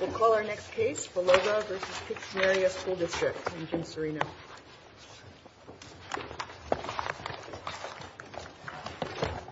We'll call our next case, Baloga v. Pittston Area School District in June Sereno. Baloga v. Pittston Area School District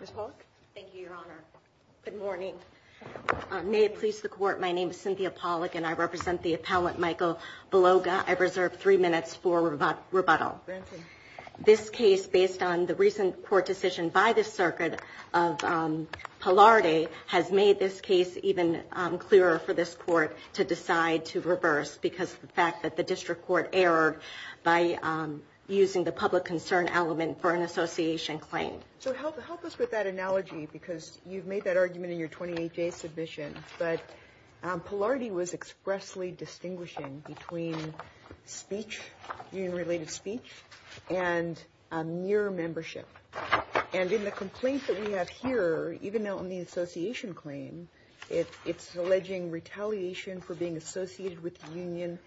Ms. Pollock? Thank you, Your Honor. Good morning. May it please the Court, my name is Cynthia Pollock and I represent the appellant Michael Baloga. I reserve three minutes for rebuttal. Granted. This case, based on the recent court decision by the Circuit of Pillarde, has made this case even clearer for this Court to decide to reverse because of the fact that the district court erred by using the public concern element for an association claim. So help us with that analogy because you've made that argument in your 28-day submission, but Pillarde was expressly distinguishing between speech, union-related speech, and mere membership. And in the complaint that we have here, even though in the association claim, it's alleging retaliation for being associated with the union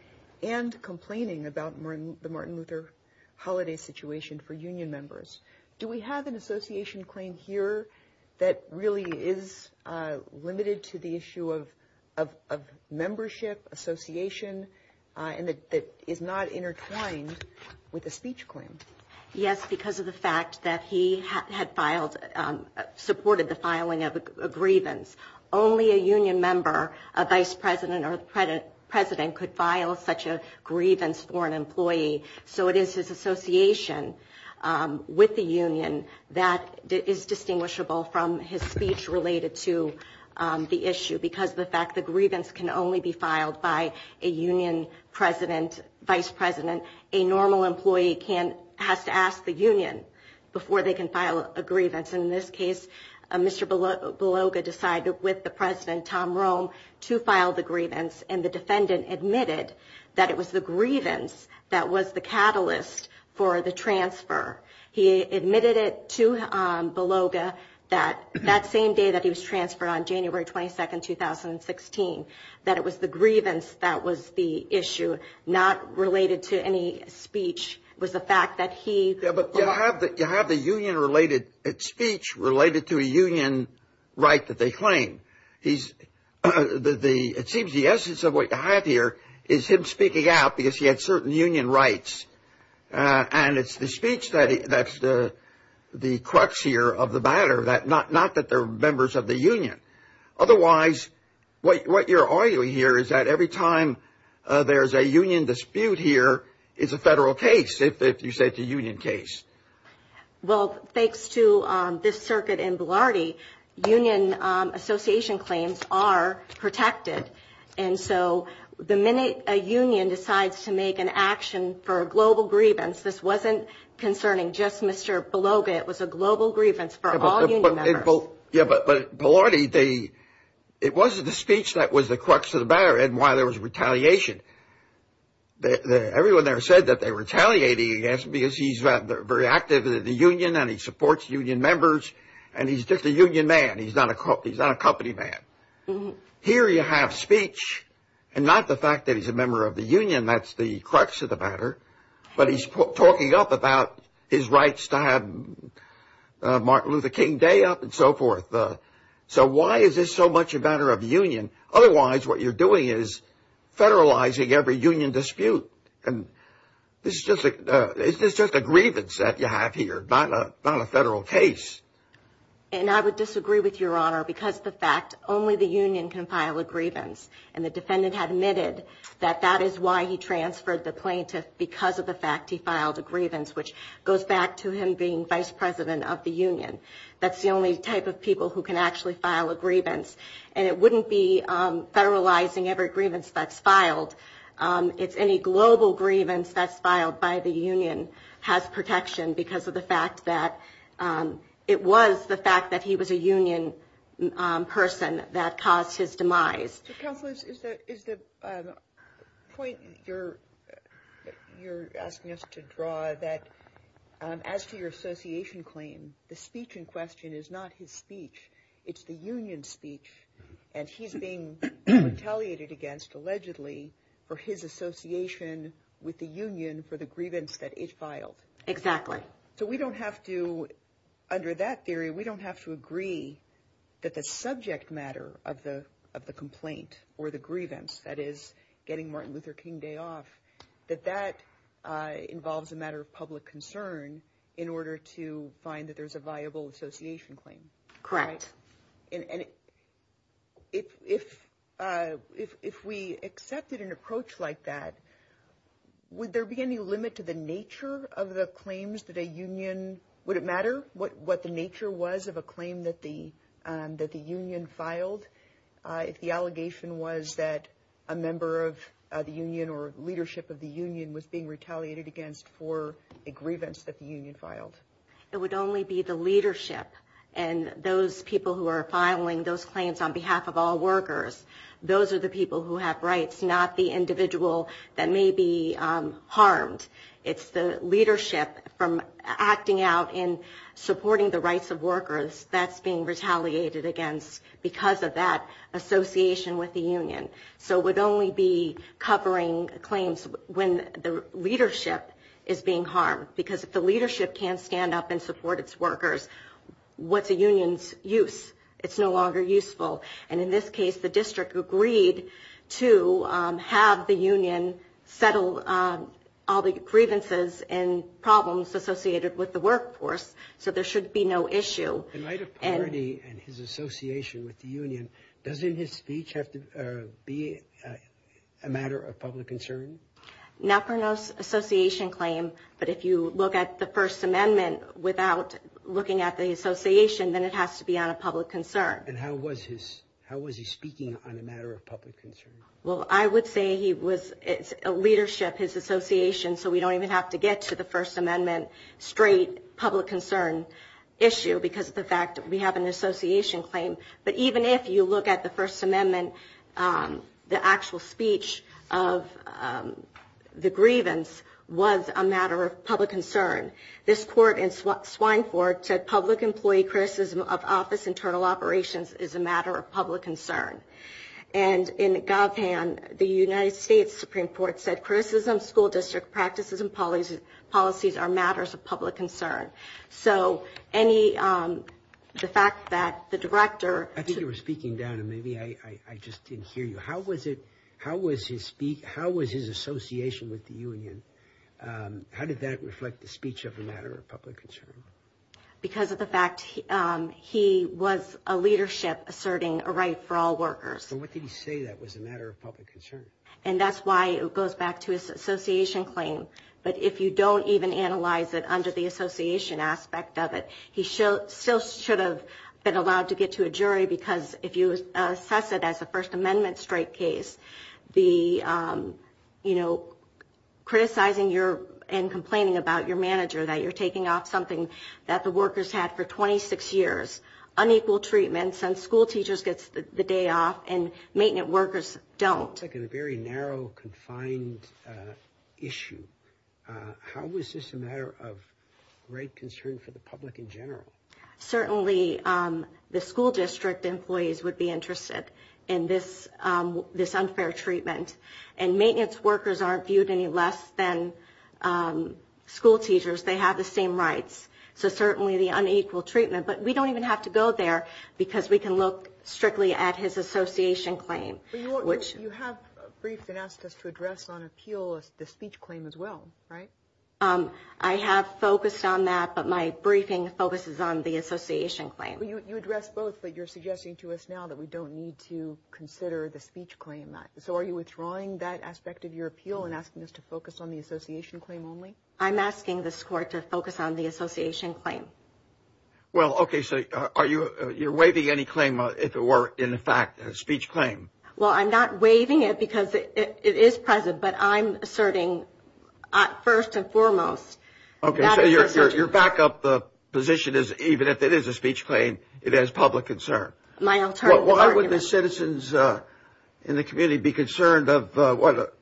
and complaining about the Martin Luther Holiday situation for union members. Do we have an association claim here that really is limited to the issue of membership, association, and that is not intertwined with the speech claim? Yes, because of the fact that he had filed, supported the filing of a grievance. Only a union member, a vice president or president, could file such a grievance for an employee. So it is his association with the union that is distinguishable from his speech related to the issue because of the fact that grievance can only be filed by a union president, vice president. A normal employee has to ask the union before they can file a grievance. In this case, Mr. Beloga decided with the president, Tom Rome, to file the grievance, and the defendant admitted that it was the grievance that was the catalyst for the transfer. He admitted it to Beloga that same day that he was transferred on January 22, 2016, that it was the grievance that was the issue, not related to any speech, was the fact that he... But you have the union related speech related to a union right that they claim. It seems the essence of what you have here is him speaking out because he had certain union rights, and it's the speech that's the crux here of the matter, not that they're members of the union. Otherwise, what you're arguing here is that every time there's a union dispute here, it's a federal case, if you say it's a union case. Well, thanks to this circuit in Bilardi, union association claims are protected. And so the minute a union decides to make an action for a global grievance, this wasn't concerning just Mr. Beloga. It was a global grievance for all union members. Yeah, but at Bilardi, it wasn't the speech that was the crux of the matter and why there was retaliation. Everyone there said that they were retaliating against him because he's very active in the union and he supports union members, and he's just a union man. He's not a company man. Here you have speech, and not the fact that he's a member of the union, that's the crux of the matter, but he's talking up about his rights to have Martin Luther King Day up and so forth. So why is this so much a matter of union? Otherwise, what you're doing is federalizing every union dispute, and this is just a grievance that you have here, not a federal case. And I would disagree with Your Honor because the fact only the union can file a grievance, and the defendant admitted that that is why he transferred the plaintiff because of the fact he filed a grievance, which goes back to him being vice president of the union. That's the only type of people who can actually file a grievance, and it wouldn't be federalizing every grievance that's filed. It's any global grievance that's filed by the union has protection because of the fact that it was the fact that he was a union person that caused his demise. Counsel, is the point you're asking us to draw that, as to your association claim, the speech in question is not his speech. It's the union speech, and he's being retaliated against, allegedly, for his association with the union for the grievance that it filed. Exactly. So we don't have to, under that theory, we don't have to agree that the subject matter of the complaint or the grievance, that is getting Martin Luther King Day off, that that involves a matter of public concern in order to find that there's a viable association claim. Correct. And if we accepted an approach like that, would there be any limit to the nature of the claims that a union, would it matter what the nature was of a claim that the union filed, if the allegation was that a member of the union or leadership of the union was being retaliated against for a grievance that the union filed? It would only be the leadership, and those people who are filing those claims on behalf of all workers, those are the people who have rights, not the individual that may be harmed. It's the leadership from acting out in supporting the rights of workers that's being retaliated against because of that association with the union. So it would only be covering claims when the leadership is being harmed, because if the leadership can't stand up and support its workers, what's a union's use? It's no longer useful. And in this case, the district agreed to have the union settle all the grievances and problems associated with the workforce, so there should be no issue. In light of poverty and his association with the union, doesn't his speech have to be a matter of public concern? Not for an association claim, but if you look at the First Amendment without looking at the association, then it has to be on a public concern. And how was he speaking on a matter of public concern? Well, I would say he was leadership, his association, so we don't even have to get to the First Amendment straight public concern issue because of the fact that we have an association claim. But even if you look at the First Amendment, the actual speech of the grievance was a matter of public concern. This court in Swineford said public employee criticism of office internal operations is a matter of public concern. And in GovHan, the United States Supreme Court said criticism school district practices and policies are matters of public concern. So the fact that the director- I think you were speaking down, and maybe I just didn't hear you. How was his association with the union? How did that reflect the speech of a matter of public concern? Because of the fact he was a leadership asserting a right for all workers. So what did he say that was a matter of public concern? And that's why it goes back to his association claim. But if you don't even analyze it under the association aspect of it, he still should have been allowed to get to a jury because if you assess it as a First Amendment straight case, the, you know, criticizing and complaining about your manager that you're taking off something that the workers had for 26 years, unequal treatment since school teachers get the day off and maintenance workers don't. It's like a very narrow, confined issue. How is this a matter of great concern for the public in general? Certainly the school district employees would be interested in this unfair treatment. And maintenance workers aren't viewed any less than school teachers. They have the same rights. So certainly the unequal treatment. But we don't even have to go there because we can look strictly at his association claim. You have briefed and asked us to address on appeal the speech claim as well, right? I have focused on that. But my briefing focuses on the association claim. You address both. But you're suggesting to us now that we don't need to consider the speech claim. So are you withdrawing that aspect of your appeal and asking us to focus on the association claim only? I'm asking this court to focus on the association claim. Well, OK. So are you you're waiving any claim if it were, in fact, a speech claim? Well, I'm not waiving it because it is present. But I'm asserting, first and foremost. OK. So your backup position is even if it is a speech claim, it has public concern. My alternative argument. Why would the citizens in the community be concerned of what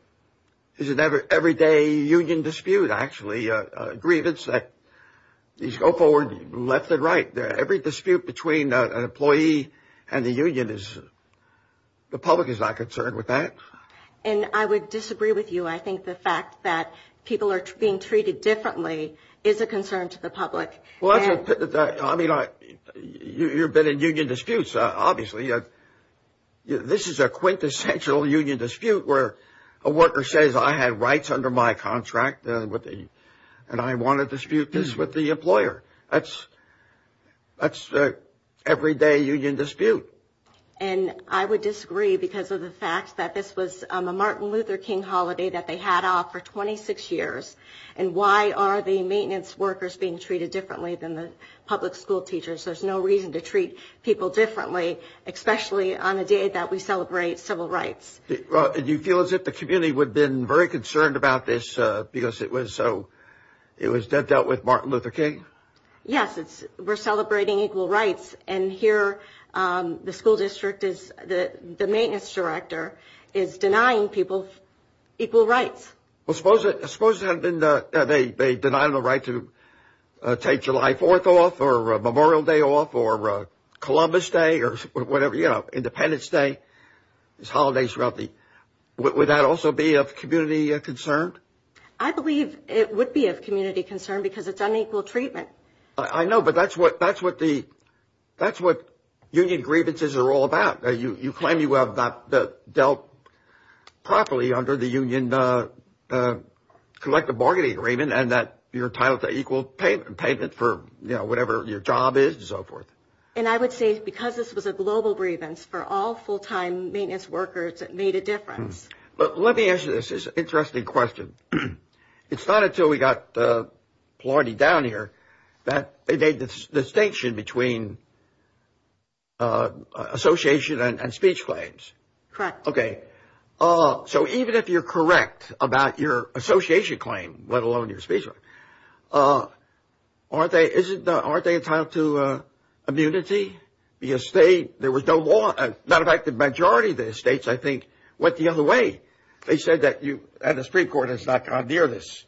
is an everyday union dispute, actually? Grievance that these go forward left and right. Every dispute between an employee and the union is the public is not concerned with that. And I would disagree with you. I think the fact that people are being treated differently is a concern to the public. Well, I mean, you've been in union disputes, obviously. This is a quintessential union dispute where a worker says, I have rights under my contract. And I want to dispute this with the employer. That's that's the everyday union dispute. And I would disagree because of the fact that this was a Martin Luther King holiday that they had off for 26 years. And why are the maintenance workers being treated differently than the public school teachers? There's no reason to treat people differently, especially on a day that we celebrate civil rights. And you feel as if the community would have been very concerned about this because it was so it was that dealt with Martin Luther King. Yes, it's we're celebrating equal rights. And here the school district is the maintenance director is denying people equal rights. Well, suppose it suppose it had been that they denied the right to take July 4th off or Memorial Day off or Columbus Day or whatever. You know, Independence Day is holidays. Would that also be of community concern? I believe it would be of community concern because it's unequal treatment. I know. But that's what that's what the that's what union grievances are all about. You claim you have that dealt properly under the union collective bargaining agreement and that you're entitled to equal pay payment for whatever your job is and so forth. And I would say because this was a global grievance for all full time maintenance workers, it made a difference. But let me ask you this is interesting question. It's not until we got the party down here that they made this distinction between. Association and speech claims. Correct. OK. So even if you're correct about your association claim, let alone your speech. Aren't they isn't aren't they entitled to immunity? Yes, they there was no law. Matter of fact, the majority of the states, I think, went the other way. They said that you had the Supreme Court has not gone near this.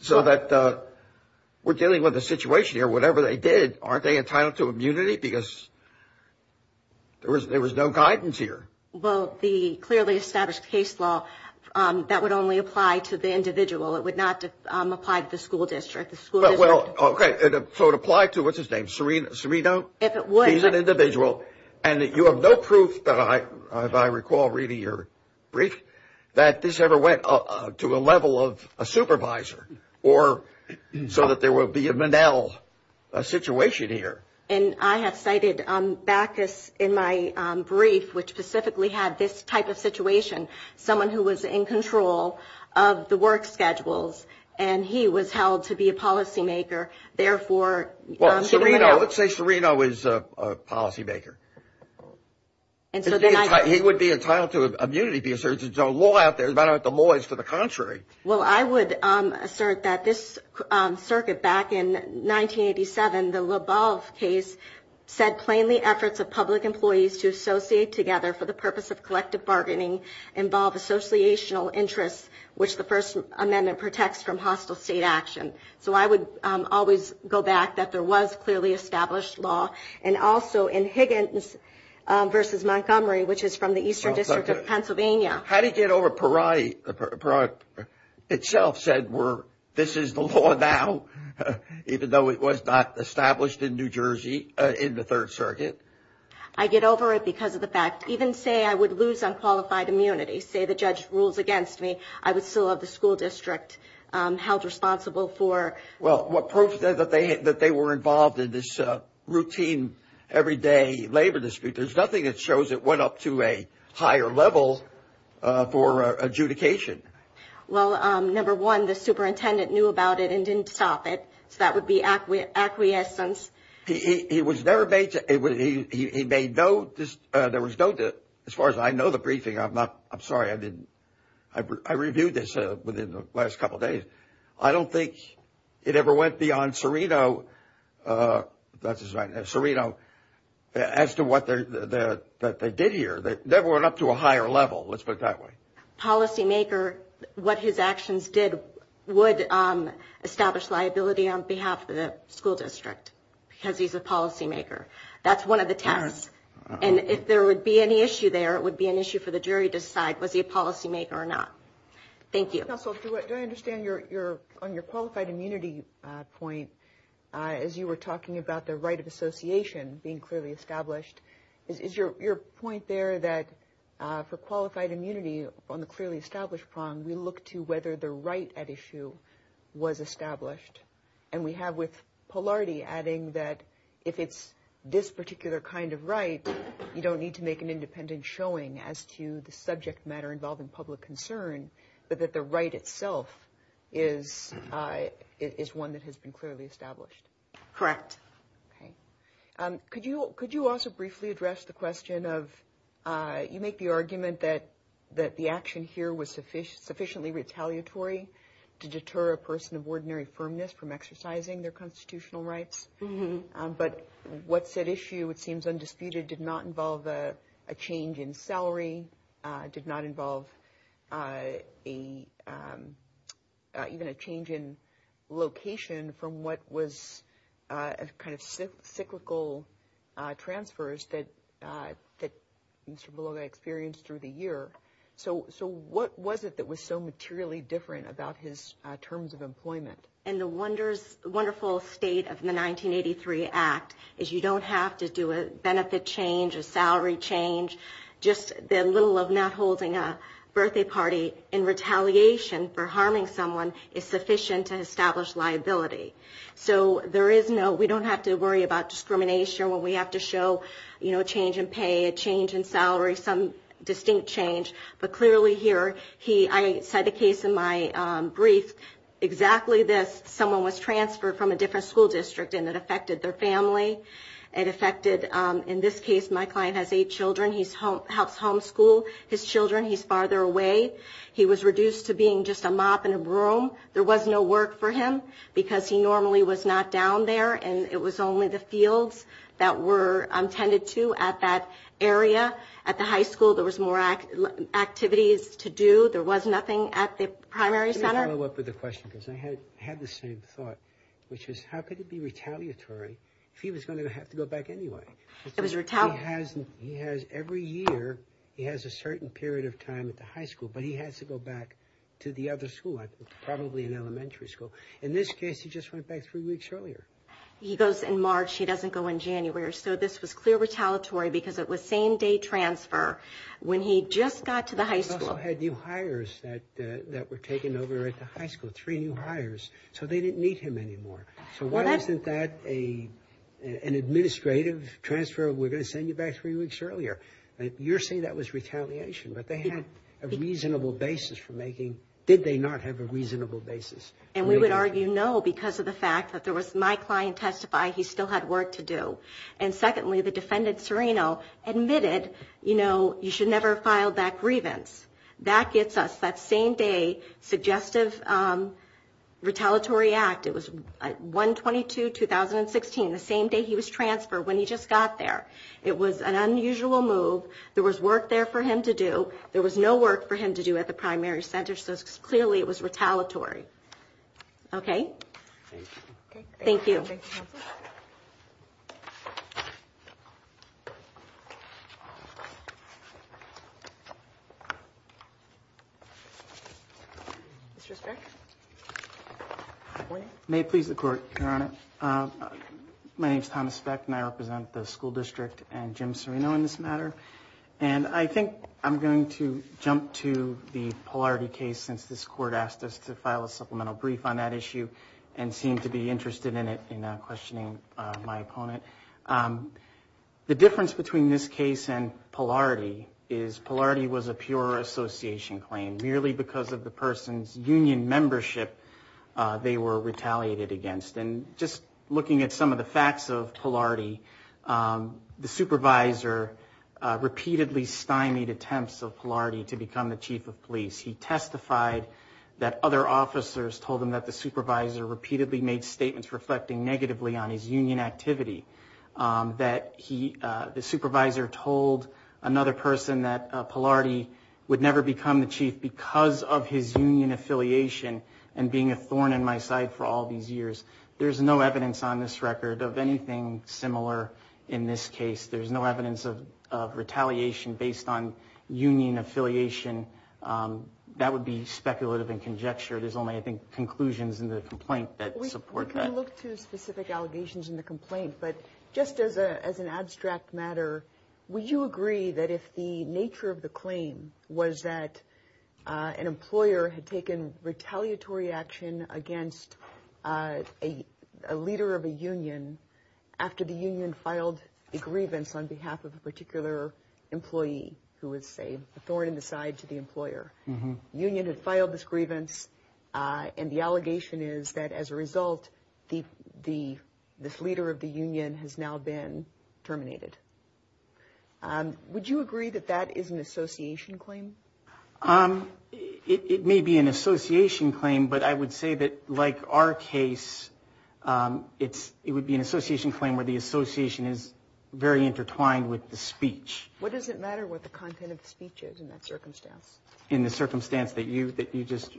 So that we're dealing with a situation here, whatever they did. Aren't they entitled to immunity? Because there was there was no guidance here. Well, the clearly established case law that would only apply to the individual. It would not apply to the school district. The school. Well, OK. So it applied to what's his name? Serena. Serena. If it was an individual and you have no proof that I recall reading your brief that this ever went to a level of a supervisor or so that there will be a manel situation here. And I have cited Bacchus in my brief, which specifically had this type of situation. Someone who was in control of the work schedules and he was held to be a policymaker. Therefore, let's say Serena was a policymaker. And so he would be entitled to immunity because there's a law out there. Well, I would assert that this circuit back in 1987, the case said plainly efforts of public employees to associate together for the purpose of collective bargaining. Involve associational interests, which the first amendment protects from hostile state action. So I would always go back that there was clearly established law. And also in Higgins versus Montgomery, which is from the eastern district of Pennsylvania. How do you get over Parani itself said were this is the law now, even though it was not established in New Jersey in the Third Circuit? I get over it because of the fact even say I would lose unqualified immunity, say the judge rules against me. I would still have the school district held responsible for. Well, what proof that they that they were involved in this routine everyday labor dispute? There's nothing that shows it went up to a higher level for adjudication. Well, number one, the superintendent knew about it and didn't stop it. So that would be acquit acquiescence. He was there. He made no. There was no. As far as I know, the briefing, I'm not I'm sorry. I didn't. I reviewed this within the last couple of days. I don't think it ever went beyond Serena. That's right. Serena. As to what they did here, they never went up to a higher level. Let's put it that way. Policymaker, what his actions did would establish liability on behalf of the school district because he's a policymaker. That's one of the tests. And if there would be any issue there, it would be an issue for the jury to decide. Was he a policymaker or not? Thank you. Counsel, do I understand your your on your qualified immunity point as you were talking about the right of association being clearly established? Is your point there that for qualified immunity on the clearly established prong, we look to whether the right at issue was established. And we have with polarity, adding that if it's this particular kind of right, you don't need to make an independent showing as to the subject matter involving public concern. But that the right itself is is one that has been clearly established. Correct. Could you could you also briefly address the question of you make the argument that that the action here was sufficient, sufficiently retaliatory to deter a person of ordinary firmness from exercising their constitutional rights. But what's at issue, it seems undisputed, did not involve a change in salary, did not involve a even a change in location from what was kind of cyclical transfers that that Mr. So so what was it that was so materially different about his terms of employment? And the wonders wonderful state of the 1983 act is you don't have to do a benefit change, a salary change. Just the little of not holding a birthday party in retaliation for harming someone is sufficient to establish liability. So there is no we don't have to worry about discrimination when we have to show, you know, a change in pay, a change in salary, some distinct change. But clearly here he I said the case in my brief exactly this. Someone was transferred from a different school district and it affected their family and affected. In this case, my client has eight children. He's home helps homeschool his children. He's farther away. He was reduced to being just a mop in a room. There was no work for him because he normally was not down there. And it was only the fields that were tended to at that area at the high school. There was more activities to do. There was nothing at the primary center. What was the question? Because I had had the same thought, which is how could it be retaliatory if he was going to have to go back anyway? It was retaliation. He has every year he has a certain period of time at the high school, but he has to go back to the other school. I think probably in elementary school. In this case, he just went back three weeks earlier. He goes in March. He doesn't go in January. So this was clear retaliatory because it was same-day transfer when he just got to the high school. He also had new hires that were taken over at the high school, three new hires. So they didn't need him anymore. So why isn't that an administrative transfer? We're going to send you back three weeks earlier. You're saying that was retaliation. But they had a reasonable basis for making. Did they not have a reasonable basis? And we would argue no because of the fact that there was my client testify he still had work to do. And secondly, the defendant, Serino, admitted, you know, you should never have filed that grievance. That gets us that same-day suggestive retaliatory act. It was 1-22-2016, the same day he was transferred when he just got there. It was an unusual move. There was work there for him to do. There was no work for him to do at the primary center. So clearly it was retaliatory. Okay? Thank you. May it please the Court, Your Honor. My name is Thomas Speck and I represent the school district and Jim Serino in this matter. And I think I'm going to jump to the Polarity case since this Court asked us to file a supplemental brief on that issue and seemed to be interested in it in questioning my opponent. The difference between this case and Polarity is Polarity was a pure association claim, merely because of the person's union membership they were retaliated against. And just looking at some of the facts of Polarity, the supervisor repeatedly stymied attempts of Polarity to become the chief of police. He testified that other officers told him that the supervisor repeatedly made statements reflecting negatively on his union activity, that the supervisor told another person that Polarity would never become the chief because of his union affiliation and being a thorn in my side for all these years. There's no evidence on this record of anything similar in this case. There's no evidence of retaliation based on union affiliation. That would be speculative and conjecture. There's only, I think, conclusions in the complaint that support that. We can look to specific allegations in the complaint, but just as an abstract matter, would you agree that if the nature of the claim was that an employer had taken retaliatory action against a leader of a union after the union filed a grievance on behalf of a particular employee who was, say, a thorn in the side to the employer, the union had filed this grievance, and the allegation is that as a result, this leader of the union has now been terminated. Would you agree that that is an association claim? It may be an association claim, but I would say that, like our case, it would be an association claim where the association is very intertwined with the speech. What does it matter what the content of the speech is in that circumstance? In the circumstance that you just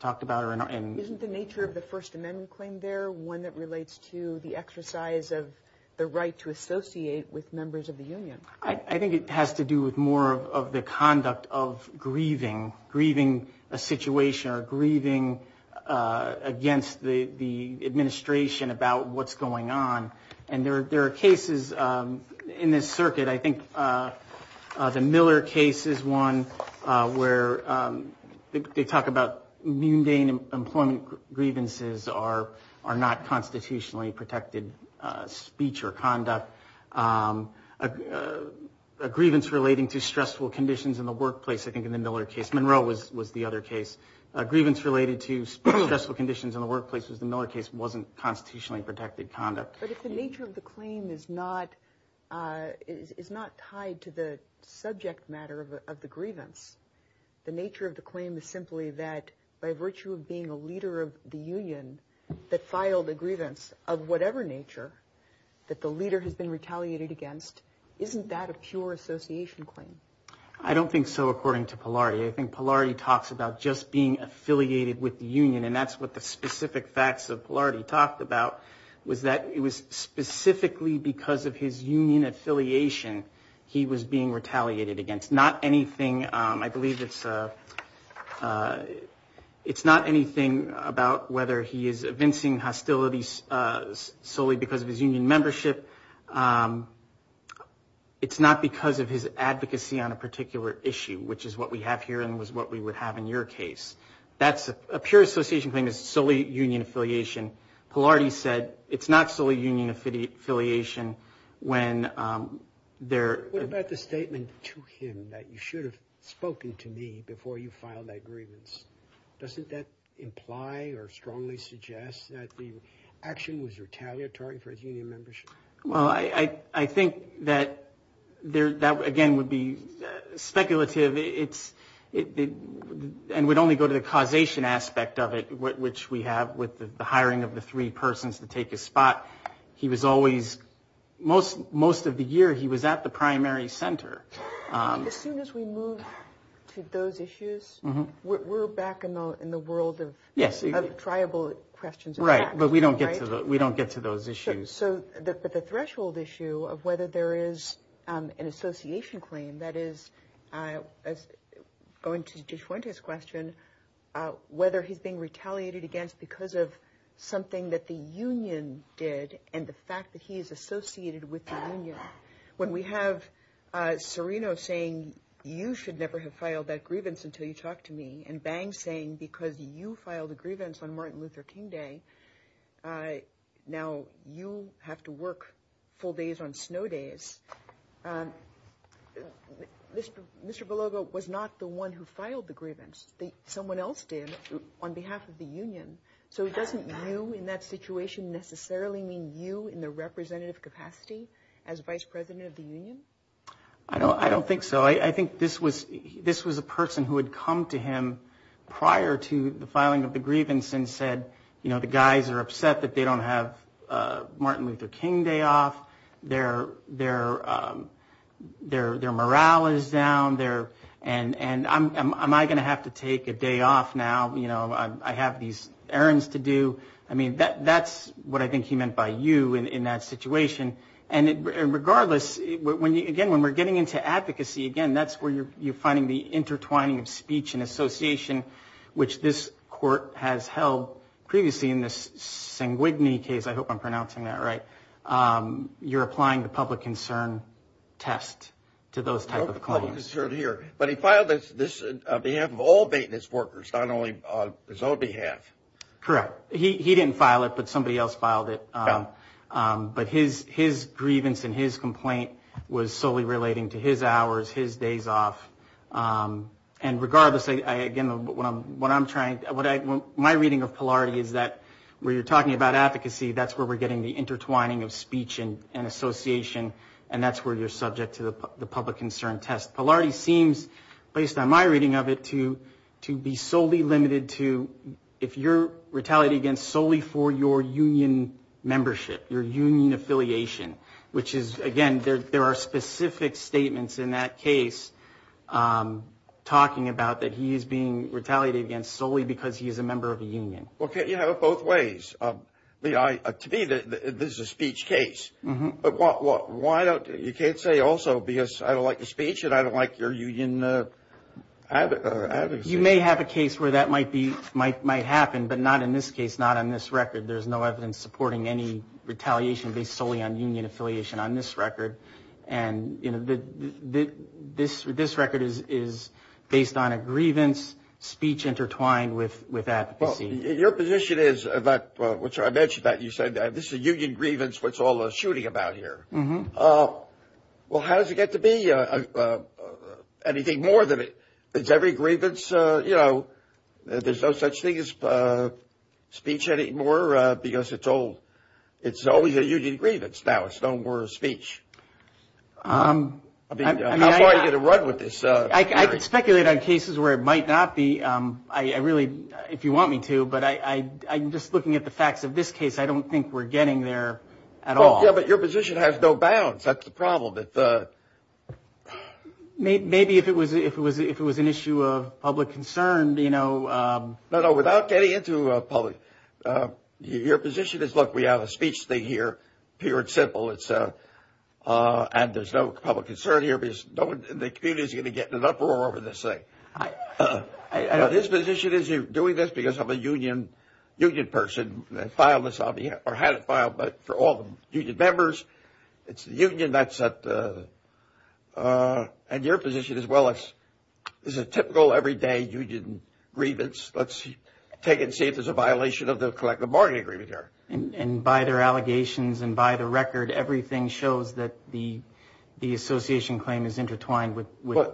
talked about. Isn't the nature of the First Amendment claim there one that relates to the exercise of the right to associate with members of the union? I think it has to do with more of the conduct of grieving, grieving a situation or grieving against the administration about what's going on. And there are cases in this circuit. I think the Miller case is one where they talk about mundane employment grievances are not constitutionally protected speech or conduct. A grievance relating to stressful conditions in the workplace, I think, in the Miller case. Monroe was the other case. A grievance related to stressful conditions in the workplace was the Miller case wasn't constitutionally protected conduct. But if the nature of the claim is not is not tied to the subject matter of the grievance. The nature of the claim is simply that by virtue of being a leader of the union that filed a grievance of whatever nature that the leader has been retaliated against. Isn't that a pure association claim? I don't think so. According to Polari, I think Polari talks about just being affiliated with the union. And that's what the specific facts of Polari talked about was that it was specifically because of his union affiliation. He was being retaliated against. Not anything. I believe it's a it's not anything about whether he is evincing hostilities solely because of his union membership. It's not because of his advocacy on a particular issue, which is what we have here and was what we would have in your case. That's a pure association claim is solely union affiliation. Polari said it's not solely union affiliation when there. What about the statement to him that you should have spoken to me before you filed that grievance? Doesn't that imply or strongly suggest that the action was retaliatory for his union membership? Well, I think that there that again would be speculative. It's it and would only go to the causation aspect of it, which we have with the hiring of the three persons to take his spot. He was always most most of the year he was at the primary center. As soon as we move to those issues, we're back in the world of tribal questions. Right. But we don't get we don't get to those issues. So the threshold issue of whether there is an association claim that is going to point to his question, whether he's being retaliated against because of something that the union did and the fact that he is associated with the union. When we have Serino saying, you should never have filed that grievance until you talk to me. And Bang saying, because you filed a grievance on Martin Luther King Day. Now you have to work full days on snow days. Mr. Belogo was not the one who filed the grievance. Someone else did on behalf of the union. So it doesn't mean you in that situation necessarily mean you in the representative capacity as vice president of the union. I don't I don't think so. I think this was this was a person who had come to him prior to the filing of the grievance and said, you know, the guys are upset that they don't have Martin Luther King Day off their their their their morale is down there. And am I going to have to take a day off now? You know, I have these errands to do. I mean, that's what I think he meant by you in that situation. And regardless, when you again, when we're getting into advocacy again, that's where you're you're finding the intertwining of speech and association, which this court has held previously in this sanguine case. I hope I'm pronouncing that right. You're applying the public concern test to those type of claims here. But he filed this on behalf of all maintenance workers, not only on his own behalf. Correct. He didn't file it, but somebody else filed it. But his his grievance and his complaint was solely relating to his hours, his days off. And regardless, I again, what I'm what I'm trying. My reading of polarity is that where you're talking about advocacy, that's where we're getting the intertwining of speech and association. And that's where you're subject to the public concern test. Polarity seems, based on my reading of it, to to be solely limited to if you're retaliating against solely for your union membership, your union affiliation, which is, again, there are specific statements in that case talking about that. He is being retaliated against solely because he is a member of a union. OK, you know, both ways. To me, this is a speech case. But what why don't you can't say also, because I don't like the speech and I don't like your union. You may have a case where that might be might might happen, but not in this case, not on this record. There's no evidence supporting any retaliation based solely on union affiliation on this record. And, you know, this this record is is based on a grievance speech intertwined with with that. Your position is that which I mentioned that you said this is a union grievance. What's all the shooting about here? Well, how does it get to be anything more than it? It's every grievance. You know, there's no such thing as speech anymore because it's old. It's always a union grievance. Now it's no more a speech. I mean, I'm going to run with this. I could speculate on cases where it might not be. I really if you want me to. But I I'm just looking at the facts of this case. I don't think we're getting there at all. Yeah. But your position has no bounds. That's the problem. Maybe if it was if it was if it was an issue of public concern, you know. No, no. Without getting into a public your position is look, we have a speech. They hear pure and simple. It's and there's no public concern here. No one in the community is going to get in an uproar over this thing. I know this position is you're doing this because of a union union person that filed this on behalf or had it filed. But for all the union members, it's the union. That's it. And your position as well as is a typical everyday you didn't grievance. Let's see. Take it. See if there's a violation of the collective bargaining agreement here. And by their allegations and by the record, everything shows that the the association claim is intertwined with.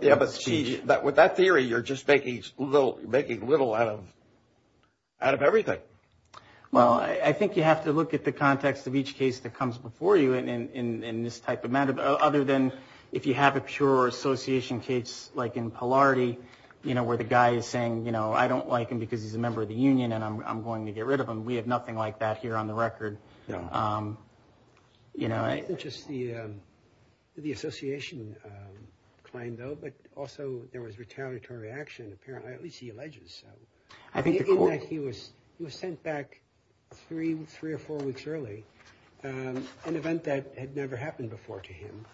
Yeah. But see that with that theory, you're just making little making little out of out of everything. Well, I think you have to look at the context of each case that comes before you in this type of matter. Other than if you have a pure association case like in polarity, you know, where the guy is saying, you know, I don't like him because he's a member of the union and I'm going to get rid of him. We have nothing like that here on the record. You know, I just see the association claim, though. But also there was retaliatory action. Apparently, at least he alleges. So I think he was sent back three, three or four weeks early. An event that had never happened before to him.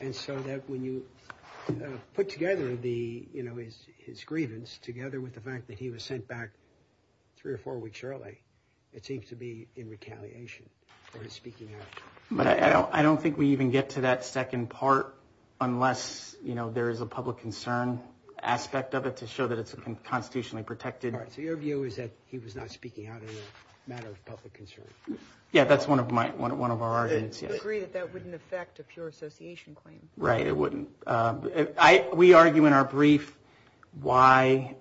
And so that when you put together the, you know, his his grievance together with the fact that he was sent back three or four weeks early, it seems to be in retaliation for his speaking. But I don't think we even get to that second part unless, you know, there is a public concern aspect of it to show that it's constitutionally protected. Right. So your view is that he was not speaking out in a matter of public concern. Yeah, that's one of my one of our arguments. You agree that that wouldn't affect a pure association claim. Right. It wouldn't. We argue in our brief why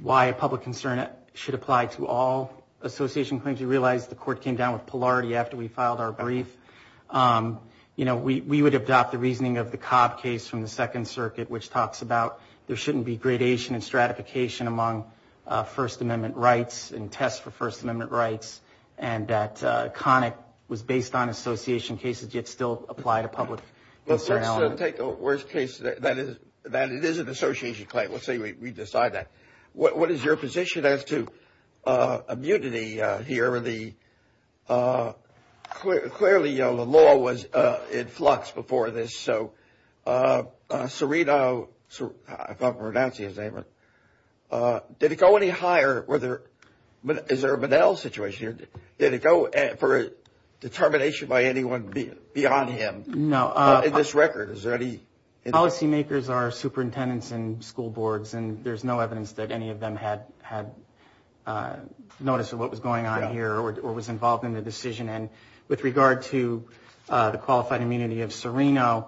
why a public concern should apply to all association claims. You realize the court came down with polarity after we filed our brief. You know, we would adopt the reasoning of the Cobb case from the Second Circuit, which talks about there shouldn't be gradation and stratification among First Amendment rights and tests for First Amendment rights. And that Connick was based on association cases yet still apply to public. Let's take the worst case that is that it is an association claim. Let's say we decide that. What is your position as to immunity here? The clearly, you know, the law was in flux before this. So Serino, if I'm pronouncing his name right. Did it go any higher? Is there a Bedell situation here? Did it go for a determination by anyone beyond him? No. In this record, is there any. Policymakers are superintendents and school boards, and there's no evidence that any of them had had notice of what was going on here or was involved in the decision. And with regard to the qualified immunity of Serino,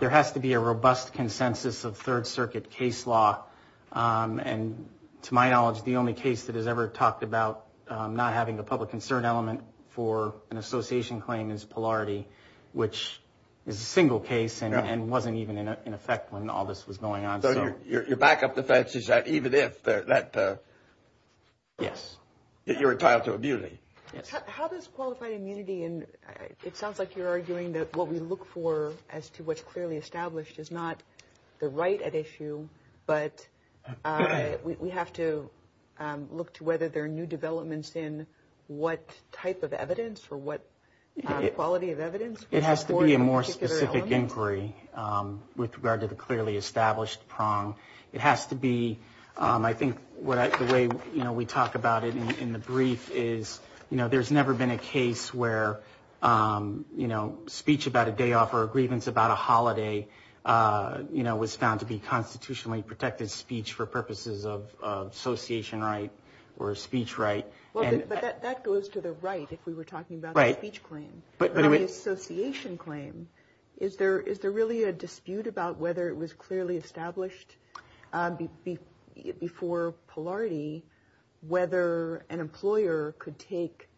there has to be a robust consensus of Third Circuit case law. And to my knowledge, the only case that has ever talked about not having a public concern element for an association claim is polarity, which is a single case and wasn't even in effect when all this was going on. So your backup defense is that even if that. Yes. You're entitled to a beauty. How does qualified immunity. And it sounds like you're arguing that what we look for as to what's clearly established is not the right at issue, but we have to look to whether there are new developments in what type of evidence or what quality of evidence. It has to be a more specific inquiry with regard to the clearly established prong. It has to be. I think the way we talk about it in the brief is, you know, there's never been a case where, you know, speech about a day off or a grievance about a holiday, you know, was found to be constitutionally protected speech for purposes of association right or speech right. And that goes to the right. If we were talking about speech claim, but association claim, is there is there really a dispute about whether it was clearly established before polarity, whether an employer could take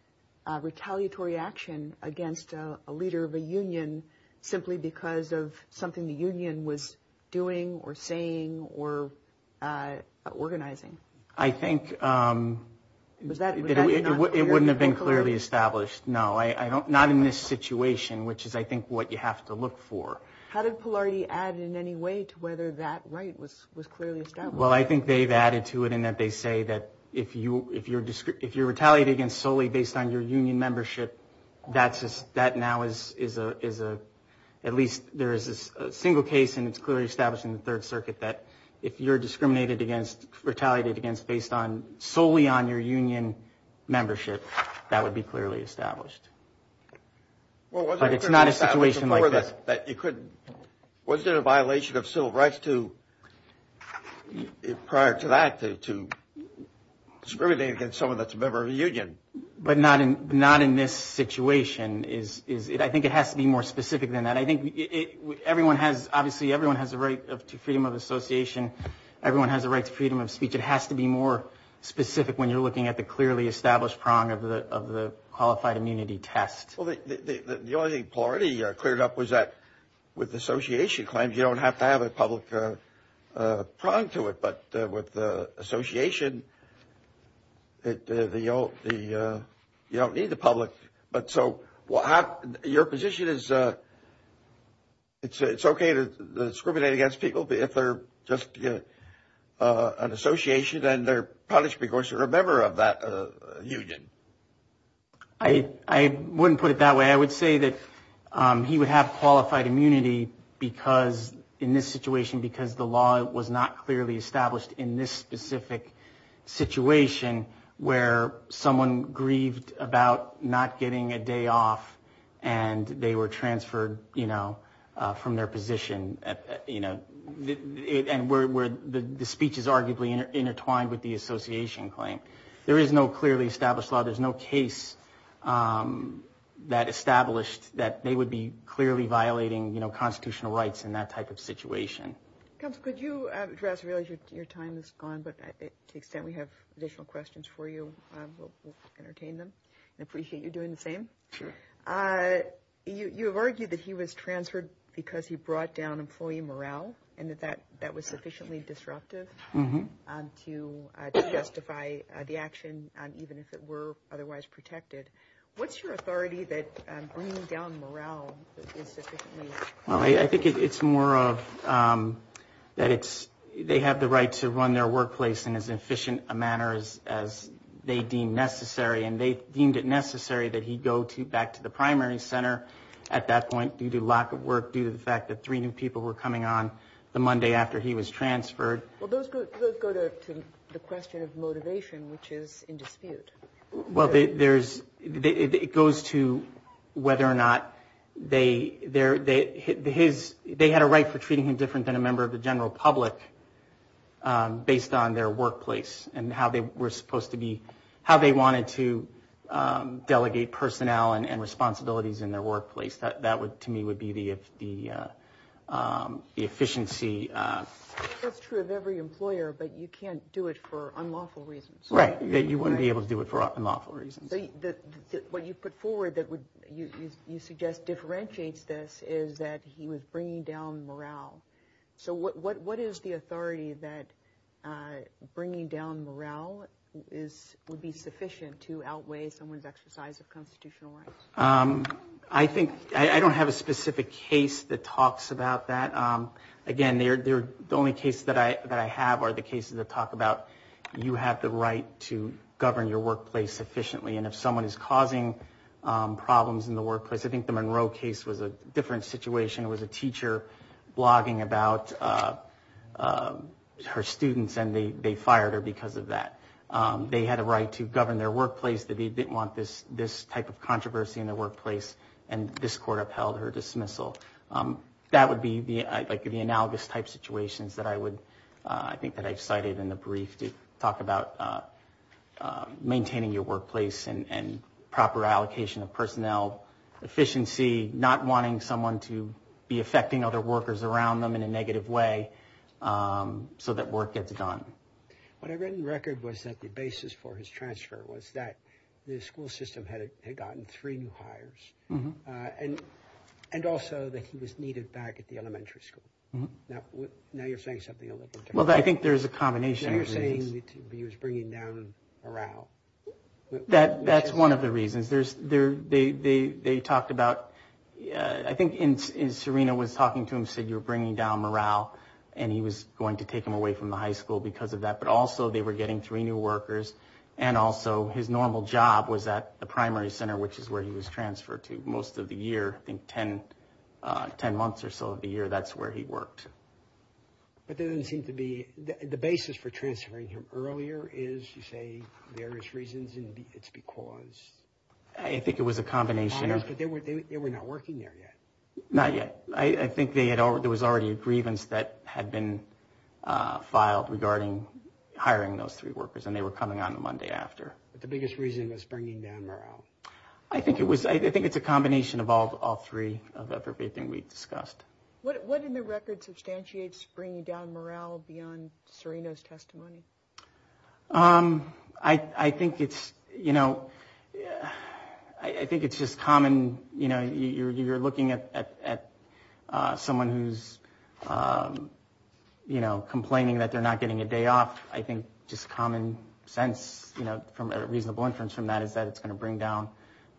retaliatory action against a leader of a union simply because of something the union was doing or saying or organizing? I think that it wouldn't have been clearly established. No, I don't. Not in this situation, which is, I think, what you have to look for. How did polarity add in any way to whether that right was was clearly established? Well, I think they've added to it and that they say that if you if you're if you're retaliated against solely based on your union membership, that's that now is is a is a at least there is a single case and it's clearly established in the Third Circuit that if you're discriminated against, retaliated against based on solely on your union membership, that would be clearly established. But it's not a situation like this that you couldn't. Was there a violation of civil rights to prior to that, to discriminate against someone that's a member of the union, but not in not in this situation is is it? I think it has to be more specific than that. I think everyone has obviously everyone has a right to freedom of association. Everyone has a right to freedom of speech. It has to be more specific when you're looking at the clearly established prong of the of the qualified immunity test. Well, the only thing party cleared up was that with association claims, you don't have to have a public prong to it. But with the association, the the the you don't need the public. But so what your position is, it's it's OK to discriminate against people if they're just an association and they're punished because you're a member of that union. I wouldn't put it that way. I would say that he would have qualified immunity because in this situation, because the law was not clearly established in this specific situation where someone grieved about not getting a day off and they were transferred, you know, from their position, you know, and where the speech is arguably intertwined with the association claim. There is no clearly established law. Could you address your time is gone, but to the extent we have additional questions for you, we'll entertain them and appreciate you doing the same. Sure. You have argued that he was transferred because he brought down employee morale and that that that was sufficiently disruptive to justify the action, even if it were otherwise protected. What's your authority that bringing down morale is sufficiently? Well, I think it's more of that. It's they have the right to run their workplace in as efficient a manner as as they deem necessary. And they deemed it necessary that he go to back to the primary center at that point due to lack of work, due to the fact that three new people were coming on the Monday after he was transferred. Well, those go to the question of motivation, which is in dispute. Well, there's it goes to whether or not they they're there. His they had a right for treating him different than a member of the general public based on their workplace and how they were supposed to be, how they wanted to delegate personnel and responsibilities in their workplace. That would to me would be the the efficiency. That's true of every employer, but you can't do it for unlawful reasons. Right. You wouldn't be able to do it for unlawful reasons. What you put forward that would you suggest differentiates this is that he was bringing down morale. So what what what is the authority that bringing down morale is would be sufficient to outweigh someone's exercise of constitutional rights? I think I don't have a specific case that talks about that. Again, they're the only case that I that I have are the cases that talk about. You have the right to govern your workplace efficiently. And if someone is causing problems in the workplace, I think the Monroe case was a different situation. It was a teacher blogging about her students and they fired her because of that. They had a right to govern their workplace. They didn't want this this type of controversy in the workplace. And this court upheld her dismissal. That would be the analogous type situations that I would I think that I've cited in the brief to talk about maintaining your workplace and proper allocation of personnel efficiency, not wanting someone to be affecting other workers around them in a negative way so that work gets done. What I read in the record was that the basis for his transfer was that the school system had gotten three new hires. And and also that he was needed back at the elementary school. Now, now you're saying something. Well, I think there's a combination. You're saying that he was bringing down morale. That that's one of the reasons there's there. They they they talked about I think in Serena was talking to him, said you're bringing down morale. And he was going to take him away from the high school because of that. But also they were getting three new workers. And also his normal job was at the primary center, which is where he was transferred to most of the year. In 10, 10 months or so of the year, that's where he worked. But there doesn't seem to be the basis for transferring him earlier is, you say, various reasons. And it's because I think it was a combination. They were not working there yet. Not yet. I think they had or there was already a grievance that had been filed regarding hiring those three workers. And they were coming on Monday after. But the biggest reason was bringing down morale. I think it was I think it's a combination of all three of everything we've discussed. What in the record substantiates bringing down morale beyond Serena's testimony? I think it's, you know, I think it's just common. You know, you're looking at someone who's, you know, complaining that they're not getting a day off. I think just common sense, you know, from a reasonable inference from that is that it's going to bring down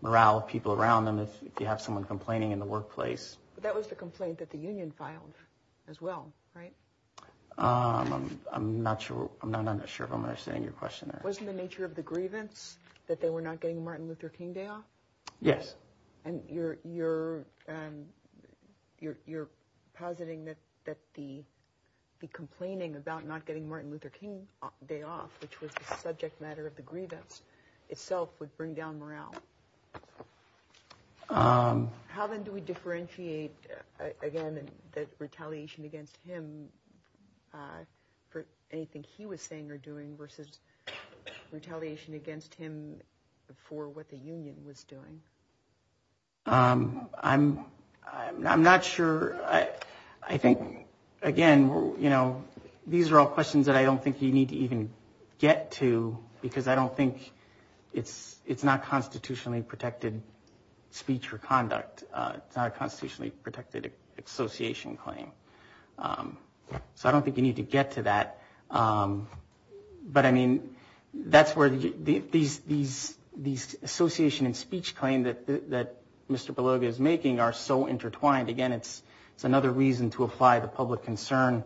morale. People around them. If you have someone complaining in the workplace. That was the complaint that the union filed as well. Right. I'm not sure. I'm not sure if I'm understanding your question. Wasn't the nature of the grievance that they were not getting Martin Luther King Day off? Yes. And you're you're you're you're positing that that the the complaining about not getting Martin Luther King Day off, which was the subject matter of the grievance itself would bring down morale. How then do we differentiate, again, that retaliation against him for anything he was saying or doing versus retaliation against him for what the union was doing? I'm I'm not sure. I think, again, you know, these are all questions that I don't think you need to even get to, because I don't think it's it's not constitutionally protected speech or conduct. It's not a constitutionally protected association claim. So I don't think you need to get to that. But, I mean, that's where these these these association and speech claim that that Mr. Beloga is making are so intertwined. Again, it's it's another reason to apply the public concern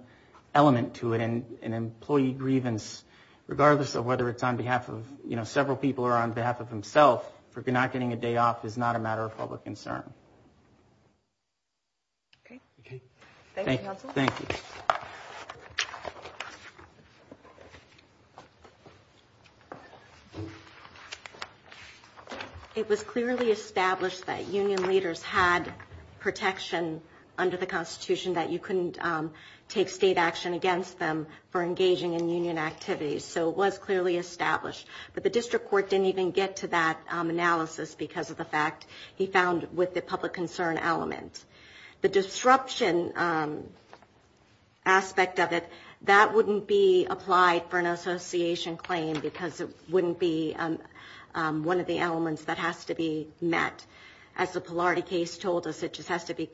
element to it. And an employee grievance, regardless of whether it's on behalf of several people or on behalf of himself, for not getting a day off is not a matter of public concern. OK. OK. Thank you. Thank you. It was clearly established that union leaders had protection under the Constitution that you couldn't take state action against them for engaging in union activities. So it was clearly established that the district court didn't even get to that analysis because of the fact he found with the public concern element, the disruption aspect of it, that wouldn't be applied for an association claim because it wouldn't be one of the elements that has to be met. As the polarity case told us, it just has to be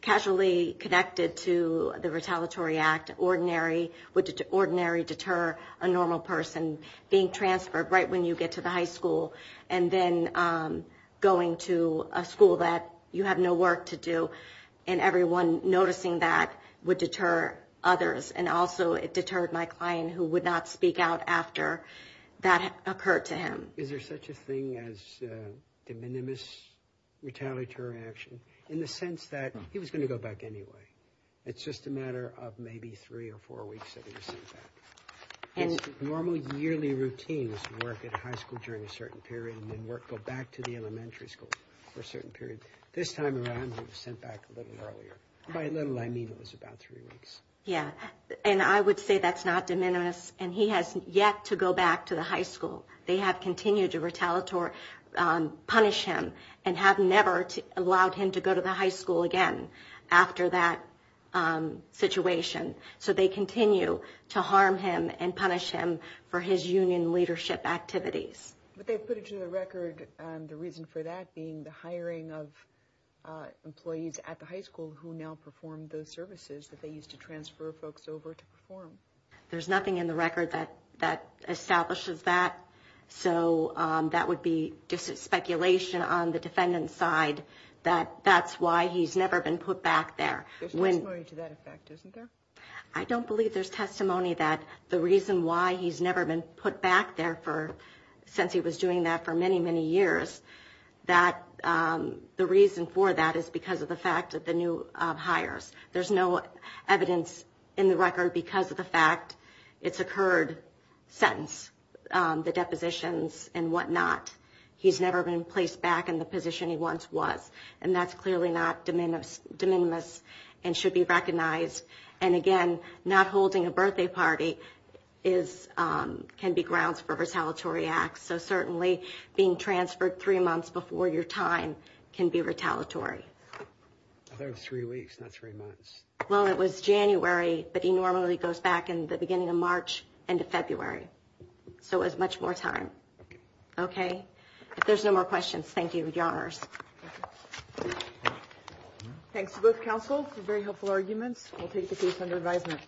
casually connected to the retaliatory act. Ordinary would ordinary deter a normal person being transferred right when you get to the high school and then going to a school that you have no work to do. And everyone noticing that would deter others. And also it deterred my client who would not speak out after that occurred to him. Is there such a thing as de minimis retaliatory action in the sense that he was going to go back anyway? It's just a matter of maybe three or four weeks. Normal yearly routine is to work at a high school during a certain period and then go back to the elementary school for a certain period. This time around he was sent back a little earlier. By a little I mean it was about three weeks. Yeah, and I would say that's not de minimis and he has yet to go back to the high school. They have continued to retaliatory punish him and have never allowed him to go to the high school again after that situation. So they continue to harm him and punish him for his union leadership activities. But they've put it to the record the reason for that being the hiring of employees at the high school who now perform those services that they used to transfer folks over to perform. There's nothing in the record that establishes that. So that would be just speculation on the defendant's side that that's why he's never been put back there. There's testimony to that effect, isn't there? I don't believe there's testimony that the reason why he's never been put back there since he was doing that for many, many years. The reason for that is because of the fact that the new hires. There's no evidence in the record because of the fact it's occurred since the depositions and whatnot. He's never been placed back in the position he once was. And that's clearly not de minimis and should be recognized. And again, not holding a birthday party can be grounds for retaliatory acts. So certainly being transferred three months before your time can be retaliatory. I thought it was three weeks, not three months. Well, it was January, but he normally goes back in the beginning of March into February. So it was much more time. Okay. Okay. If there's no more questions, thank you. Thank you, Your Honors. Thank you. Thanks to both counsels for very helpful arguments. We'll take the case under advisement.